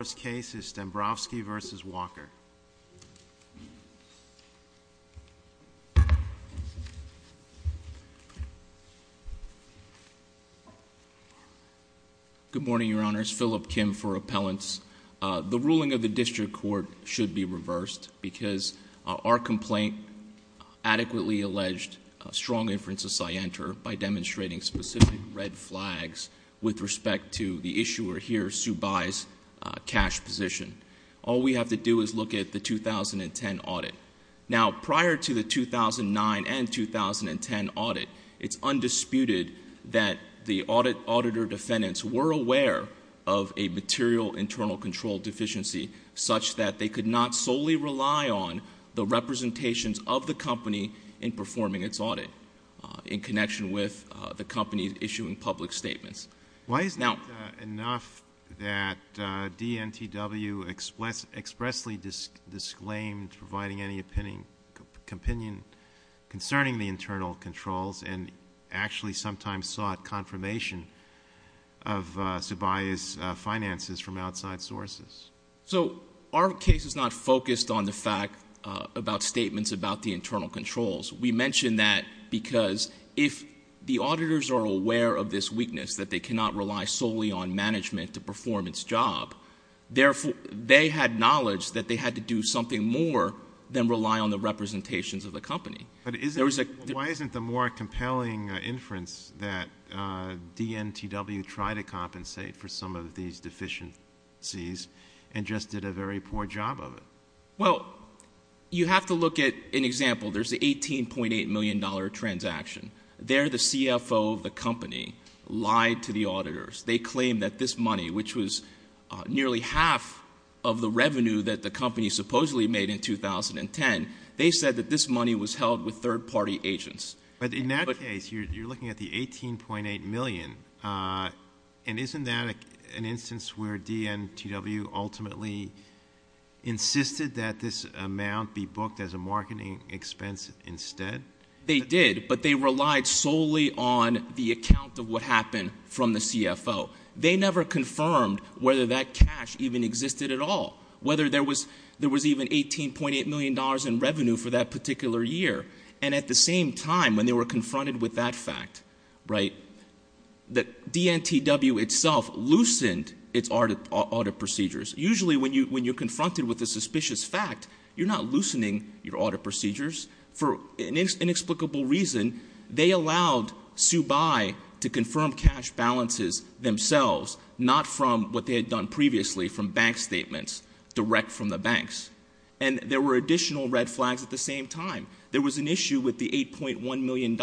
The first case is Stembrowski v. Walker. Good morning, Your Honors. Philip Kim for Appellants. The ruling of the District Court should be reversed because our complaint adequately alleged strong inferences I enter by demonstrating specific red flags with respect to the issuer here, Sue Byes, cash position. All we have to do is look at the 2010 audit. Now, prior to the 2009 and 2010 audit, it's undisputed that the auditor defendants were aware of a material internal control deficiency such that they could not solely rely on the representations of the company in performing its audit in connection with the company issuing public statements. Why is it enough that DNTW expressly disclaimed providing any opinion concerning the internal controls and actually sometimes sought confirmation of Sue Byes' finances from outside sources? Our case is not focused on the fact about statements about the internal controls. We mention that because if the auditors are aware of this weakness that they cannot rely solely on management to perform its job, therefore they had knowledge that they had to do something more than rely on the representations of the company. Why isn't the more compelling inference that DNTW tried to compensate for some of these deficiencies and just did a very poor job of it? Well, you have to look at an example. There's the $18.8 million transaction. There, the CFO of the company lied to the auditors. They claimed that this money, which was nearly half of the revenue that the company supposedly made in 2010, they said that this money was held with third-party agents. But in that case, you're looking at the $18.8 million. And isn't that an instance where DNTW ultimately insisted that this amount be booked as a marketing expense instead? They did, but they relied solely on the account of what happened from the CFO. They never confirmed whether that cash even existed at all, whether there was even $18.8 million in revenue for that particular year. And at the same time, when they were confronted with that fact, that DNTW itself loosened its audit procedures. Usually, when you're confronted with a suspicious fact, you're not loosening your audit procedures. For an inexplicable reason, they allowed SUBI to confirm cash balances themselves, not from what they had done previously, from bank statements, direct from the banks. And there were additional red flags at the same time. There was an issue with the $8.1 million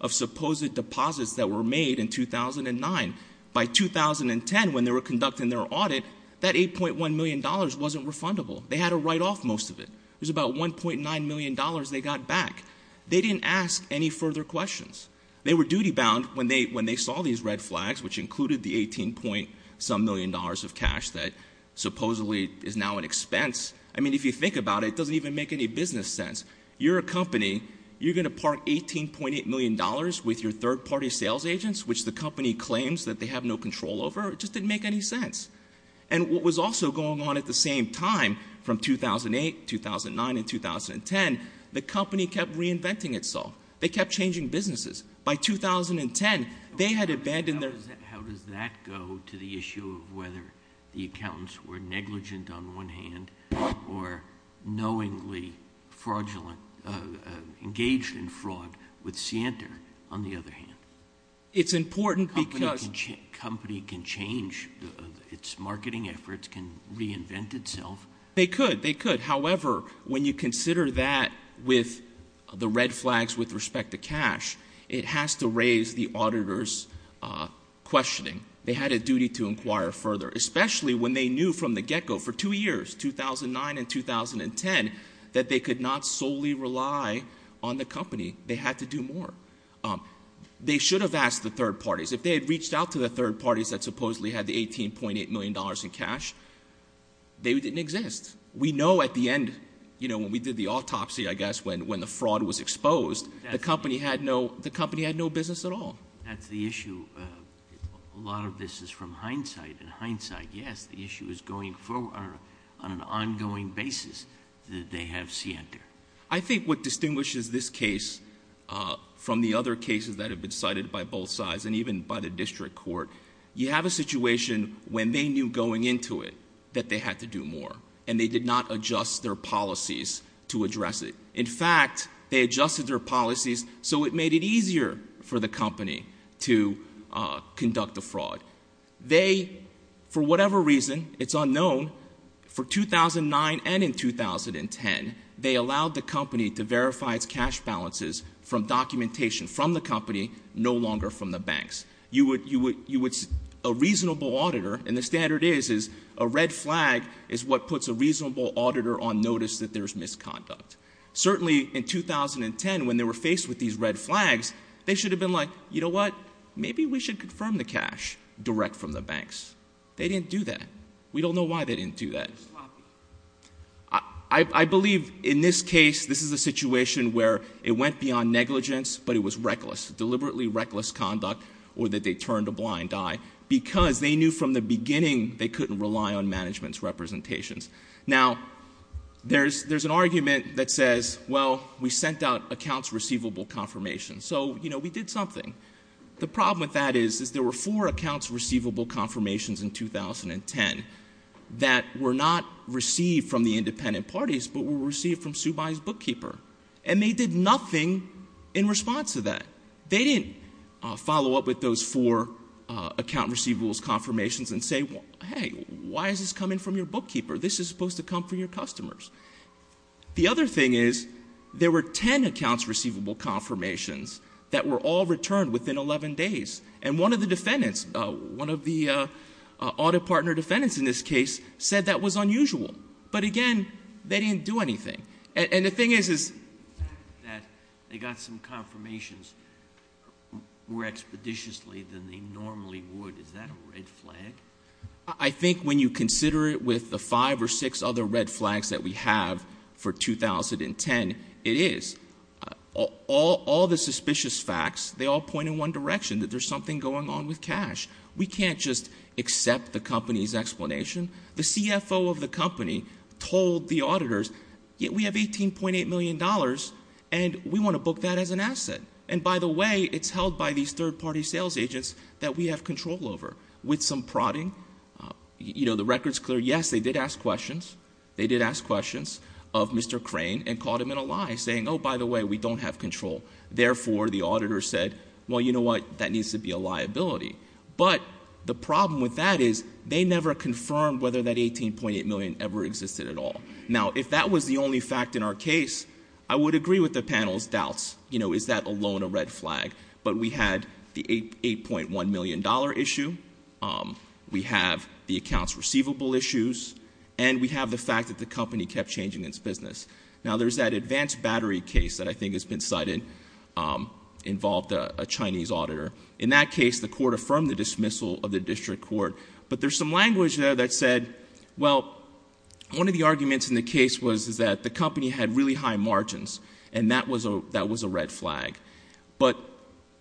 of supposed deposits that were made in 2009. By 2010, when they were conducting their audit, that $8.1 million wasn't refundable. They had to write off most of it. It was about $1.9 million they got back. They didn't ask any further questions. They were duty-bound when they saw these red flags, which included the $18. some million of cash that supposedly is now an expense. I mean, if you think about it, it doesn't even make any business sense. You're a company. You're going to park $18.8 million with your third-party sales agents, which the company claims that they have no control over. It just didn't make any sense. And what was also going on at the same time, from 2008, 2009, and 2010, the company kept reinventing itself. They kept changing businesses. By 2010, they had abandoned their... How does that go to the issue of whether the accountants were negligent on one hand, or knowingly fraudulent, engaged in fraud with Sienta on the other hand? It's important because... A company can change its marketing efforts, can reinvent itself. They could. They could. However, when you consider that with the red flags with respect to cash, it has to raise the auditor's questioning. They had a duty to inquire further, especially when they knew from the get-go for two years, 2009 and 2010, that they could not solely rely on the company. They had to do more. They should have asked the third parties. If they had reached out to the third parties that supposedly had the $18.8 million in cash, they didn't exist. We know at the end, when we did the autopsy, I guess, when the fraud was exposed, the company had no business at all. That's the issue. A lot of this is from hindsight, and hindsight, yes, the issue is going forward on an ongoing basis that they have Sienta. I think what distinguishes this case from the other cases that have been cited by both sides and even by the district court, you have a situation when they knew going into it that they had to do more, and they did not adjust their policies to address it. In fact, they adjusted their policies so it made it easier for the company to conduct the fraud. They, for whatever reason, it's unknown, for 2009 and in 2010, they allowed the company to verify its cash balances from documentation from the company, no longer from the banks. You would, a reasonable auditor, and the standard is, a red flag is what puts a reasonable auditor on notice that there's misconduct. Certainly in 2010, when they were faced with these red flags, they should have been like, you know what, maybe we should confirm the cash direct from the banks. They didn't do that. We don't know why they didn't do that. They're sloppy. I believe in this case, this is a situation where it went beyond negligence, but it was reckless, deliberately reckless conduct, or that they turned a blind eye because they knew from the beginning they couldn't rely on management's representations. Now, there's an argument that says, well, we sent out accounts receivable confirmation. So, you know, we did something. The problem with that is, is there were four accounts receivable confirmations in 2010 that were not received from the independent parties, but were received from Subai's bookkeeper. And they did nothing in response to that. They didn't follow up with those four account receivables confirmations and say, hey, why is this coming from your bookkeeper? This is supposed to come from your customers. The other thing is, there were 10 accounts receivable confirmations that were all returned within 11 days. And one of the defendants, one of the audit partner defendants in this case said that was unusual. But again, they didn't do anything. And the thing is, is that they got some confirmations more expeditiously than they normally would. Is that a red flag? I think when you consider it with the five or six other red flags that we have for 2010, it is. All the suspicious facts, they all point in one direction, that there's something going on with cash. We can't just accept the company's explanation. The CFO of the company told the auditors, yeah, we have $18.8 million and we want to book that as an asset. And by the way, it's held by these third-party sales agents that we have control over. With some prodding, you know, the record's clear. Yes, they did ask questions. They did ask questions of Mr. Crane and caught him in a lie saying, oh, by the way, we don't have control. Therefore, the auditor said, well, you know what? That needs to be a liability. But the problem with that is they never confirmed whether that $18.8 million ever existed at all. Now, if that was the only fact in our case, I would agree with the panel's doubts. You know, is that alone a red flag? But we had the $8.1 million issue. We have the accounts receivable issues and we have the fact that the company kept changing its business. Now, there's that advanced battery case that I think has been cited, involved a Chinese auditor. In that case, the court affirmed the dismissal of the district court. But there's some language there that said, well, one of the arguments in the case was that the company had really high margins and that was a red flag. But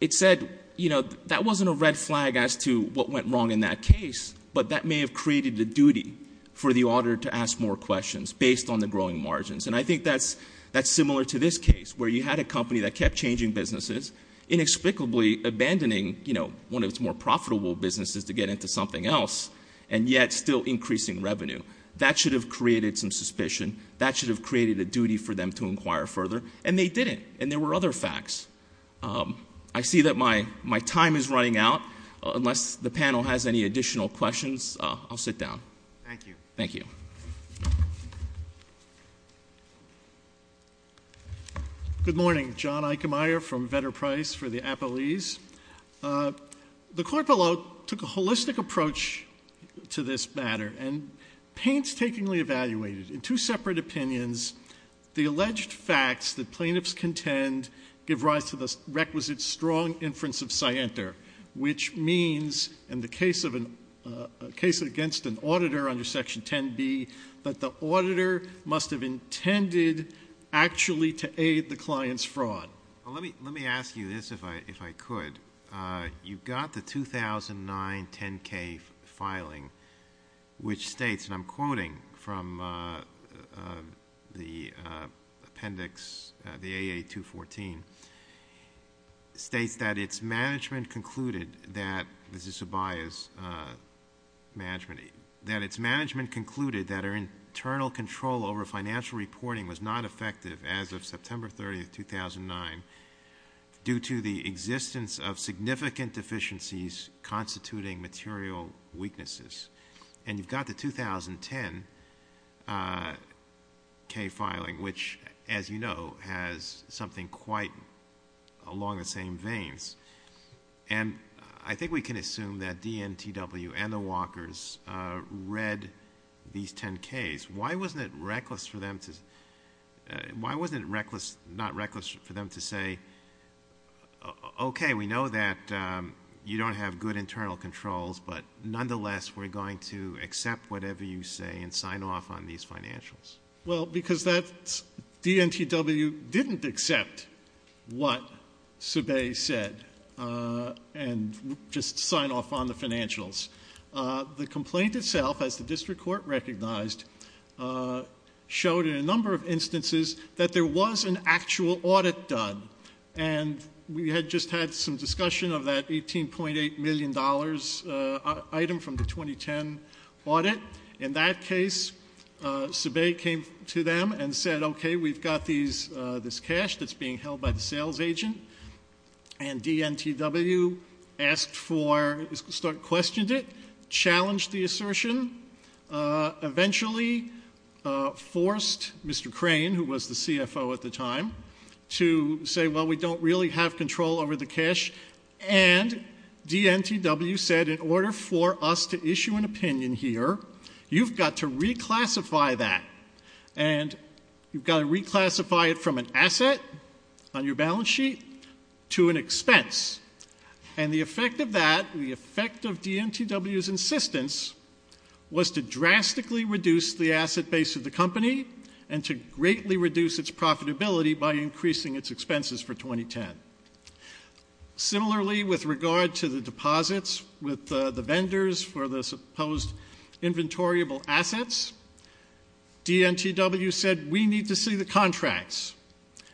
it said, you know, that wasn't a red flag as to what went wrong in that case, but that may have created the duty for the auditor to ask more questions based on the growing margins. And I think that's similar to this case where you had a company that kept changing businesses, inexplicably abandoning, you know, one of its more profitable businesses to get into something else, and yet still increasing revenue. That should have created some suspicion. That should have created a duty for them to inquire further. And they didn't. And there were other facts. I see that my time is running out. Unless the panel has any additional questions, I'll sit down. Thank you. Thank you. Good morning. John Eickemeyer from Vetter Price for the Appellees. The court below took a holistic approach to this matter and painstakingly evaluated, in two separate opinions, the alleged facts that plaintiffs contend give rise to the requisite strong inference of scienter, which means, in the case against an auditor under section 10B, that the auditor must have intended actually to aid the client's fraud. Well, let me ask you this, if I could. You've got the 2009 10-K filing, which states, and I'm quoting from the appendix, the AA 214, states that its management concluded that, this is Zubayas' management, that its management concluded that our internal control over financial reporting was not effective as of September 30th, 2009, due to the existence of significant deficiencies constituting material weaknesses. And you've got the 2010-K filing, which, as you know, has something quite along the same veins. And I think we can assume that DNTW and the Walkers read these 10-Ks. Why wasn't it reckless for them to, why wasn't it reckless, not reckless for them to say, okay, we know that you don't have good internal controls, but nonetheless, we're going to accept whatever you say and sign off on these financials? Well, because that's, DNTW didn't accept what Zubayas said, and just sign off on the financials. The complaint itself, as the district court recognized, showed in a number of instances that there was an actual audit done. And we had just had some discussion of that $18.8 million item from the 2010 audit. In that case, Zubayas came to them and said, okay, we've got this cash that's being held by the sales agent. And DNTW asked for, questioned it, challenged the assertion, eventually forced Mr. Crane, who was the CFO at the time, to say, well, we don't really have control over the cash. And DNTW said, in order for us to issue an opinion here, you've got to reclassify that. And you've got to reclassify it from an asset on your balance sheet to an expense. And the effect of that, the effect of DNTW's insistence, was to drastically reduce the asset base of the company, and to greatly reduce its profitability by increasing its expenses for 2010. Similarly, with regard to the deposits with the vendors for the supposed inventoriable assets, DNTW said, we need to see the contracts.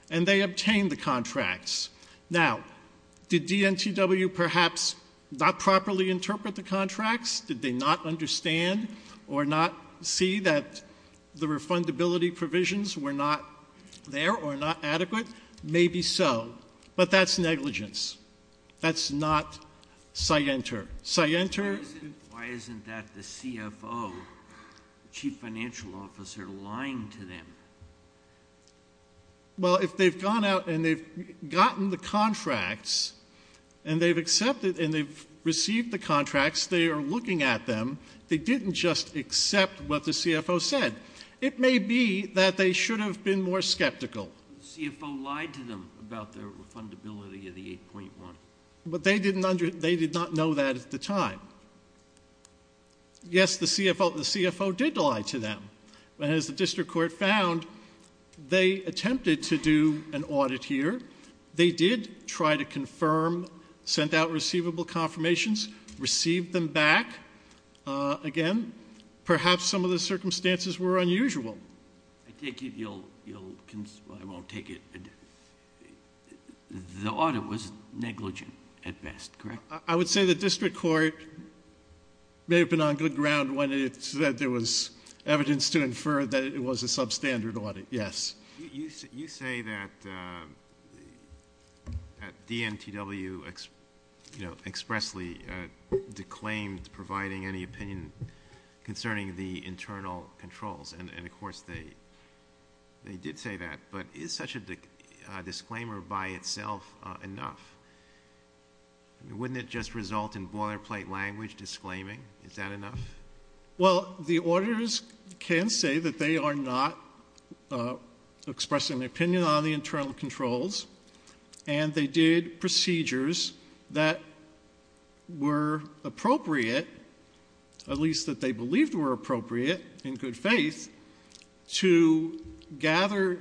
And they obtained the contracts. Now, did DNTW perhaps not properly interpret the contracts? Did they not understand or not see that the refundability provisions were not there or not adequate? Maybe so. But that's negligence. That's not scienter. Scienter... Why isn't that the CFO, Chief Financial Officer, lying to them? Well, if they've gone out and they've gotten the contracts, and they've accepted and they've received the contracts, they are looking at them, they didn't just accept what the CFO said. It may be that they should have been more skeptical. CFO lied to them about their refundability of the 8.1. But they did not know that at the time. Yes, the CFO did lie to them. But as the district court found, they attempted to do an audit here. They did try to confirm, sent out receivable confirmations, received them back again. Perhaps some of the circumstances were unusual. I take it you'll, I won't take it. The audit was negligent at best, correct? I would say the district court may have been on good ground when it said there was evidence to infer that it was a substandard audit, yes. You say that at DNTW expressly declaimed providing any opinion concerning the internal controls. And of course they did say that. But is such a disclaimer by itself enough? Wouldn't it just result in boilerplate language disclaiming? Is that enough? Well, the auditors can say that they are not expressing their opinion on the internal controls. And they did procedures that were appropriate, at least that they believed were appropriate, in good faith, to gather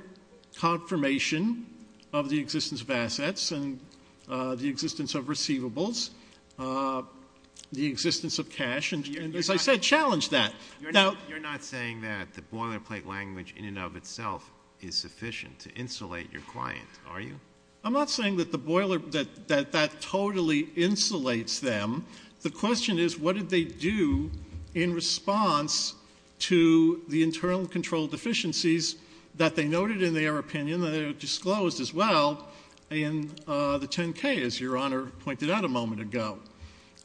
confirmation of the existence of assets and the existence of receivables, the existence of cash, and as I said, challenge that. You're not saying that the boilerplate language in and of itself is sufficient to insulate your client, are you? I'm not saying that the boiler, that that totally insulates them. The question is what did they do in response to the internal control deficiencies that they noted in their opinion that are disclosed as well in the 10-K, as Your Honor pointed out a moment ago.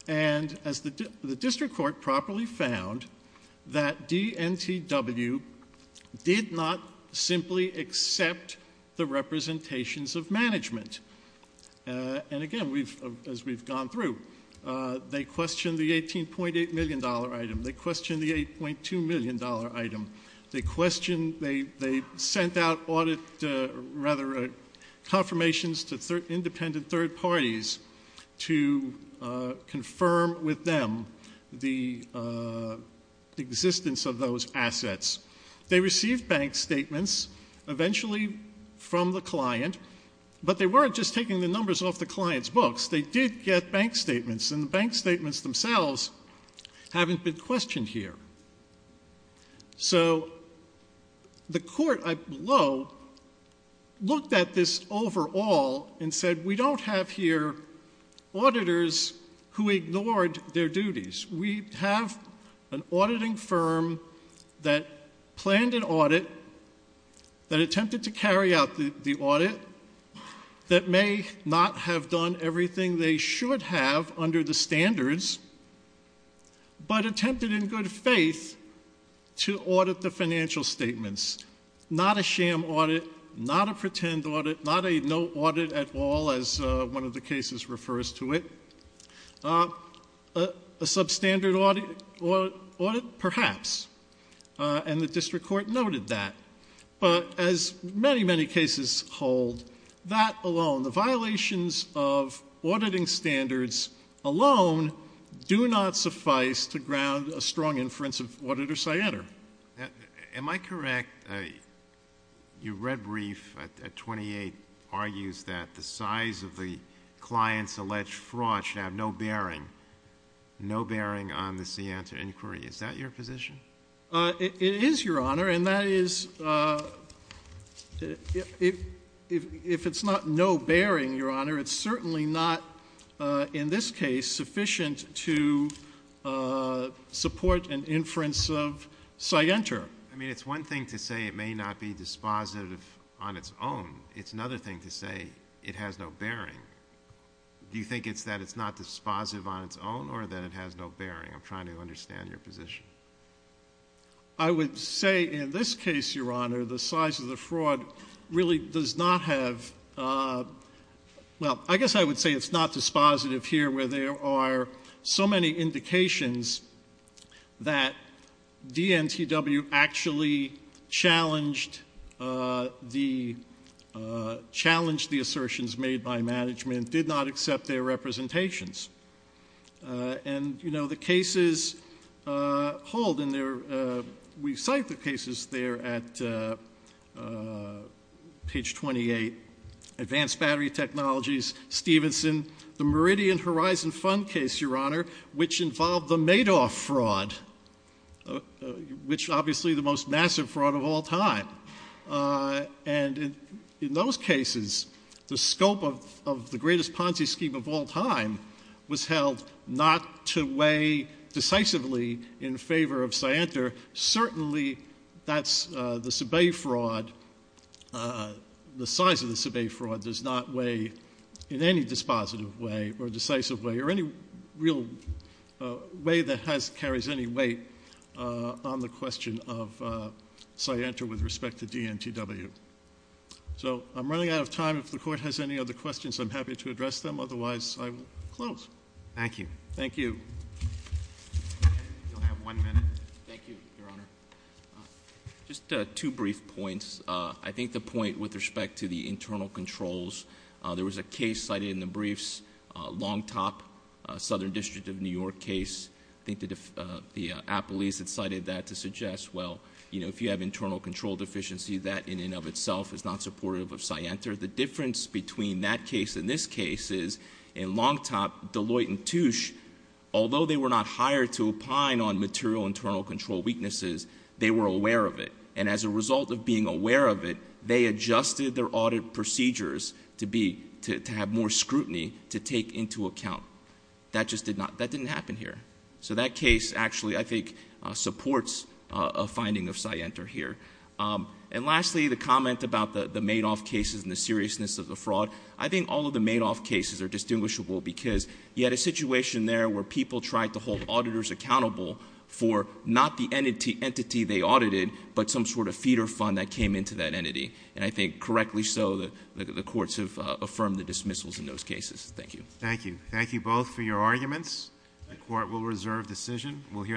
And as the district court properly found, that DNTW did not simply accept the representations of management. And again, as we've gone through, they questioned the $18.8 million item. They questioned the $8.2 million item. They questioned, they sent out audit, rather, confirmations to independent third parties to confirm with them the existence of those assets. They received bank statements eventually from the client, but they weren't just taking the numbers off the client's books. They did get bank statements, and the bank statements themselves haven't been questioned here. So the court below looked at this overall and said we don't have here auditors who ignored their duties. We have an auditing firm that planned an audit, that attempted to carry out the audit, that may not have done everything they should have under the standards, but attempted in good faith to audit the financial statements. Not a sham audit, not a pretend audit, not a no audit at all, as one of the cases refers to it. A substandard audit, perhaps. And the district court noted that. But as many, many cases hold, that alone, the violations of auditing standards alone do not suffice to ground a strong inference of Auditor Siena. Your Honor. Am I correct, your red brief at 28 argues that the size of the client's alleged fraud should have no bearing, no bearing on the Siena inquiry. Is that your position? It is, Your Honor, and that is, if it's not no bearing, Your Honor, it's certainly not, in this case, sufficient to support an inference of Sienta. I mean, it's one thing to say it may not be dispositive on its own. It's another thing to say it has no bearing. Do you think it's that it's not dispositive on its own, or that it has no bearing? I'm trying to understand your position. I would say, in this case, Your Honor, the size of the fraud really does not have, well, I guess I would say it's not dispositive here, where there are so many indications that DNTW actually challenged the assertions made by management, did not accept their representations. And, you know, the cases hauled in there, we cite the cases there at page 28, advanced battery technologies, Stevenson, the Meridian Horizon Fund case, Your Honor, which involved the Madoff fraud, which, obviously, the most massive fraud of all time. And in those cases, the scope of the greatest Ponzi scheme of all time was held not to weigh decisively in favor of Sienta. Certainly, that's the Sabe fraud, the size of the Sabe fraud does not weigh in any dispositive way, or decisive way, or any real way that carries any weight on the question of Sienta with respect to DNTW. So, I'm running out of time. If the Court has any other questions, I'm happy to address them. Otherwise, I will close. Thank you. Thank you. You'll have one minute. Thank you, Your Honor. Just two brief points. I think the point with respect to the internal controls, there was a case cited in the briefs, Longtop, Southern District of New York case. I think the appellees had cited that to suggest, well, if you have internal control deficiency, that, in and of itself, is not supportive of Sienta. The difference between that case and this case is, in Longtop, Deloitte and Touche, although they were not hired to opine on material internal control weaknesses, they were aware of it. And as a result of being aware of it, they adjusted their audit procedures to have more scrutiny to take into account. That just did not, that didn't happen here. So that case, actually, I think, supports a finding of Sienta here. And lastly, the comment about the Madoff cases and the seriousness of the fraud, I think all of the Madoff cases are distinguishable because you had a situation there where people tried to hold auditors accountable for not the entity they audited, but some sort of feeder fund that came into that entity. And I think, correctly so, the courts have affirmed the dismissals in those cases. Thank you. Thank you. Thank you both for your arguments. The court will reserve decision. We'll hear.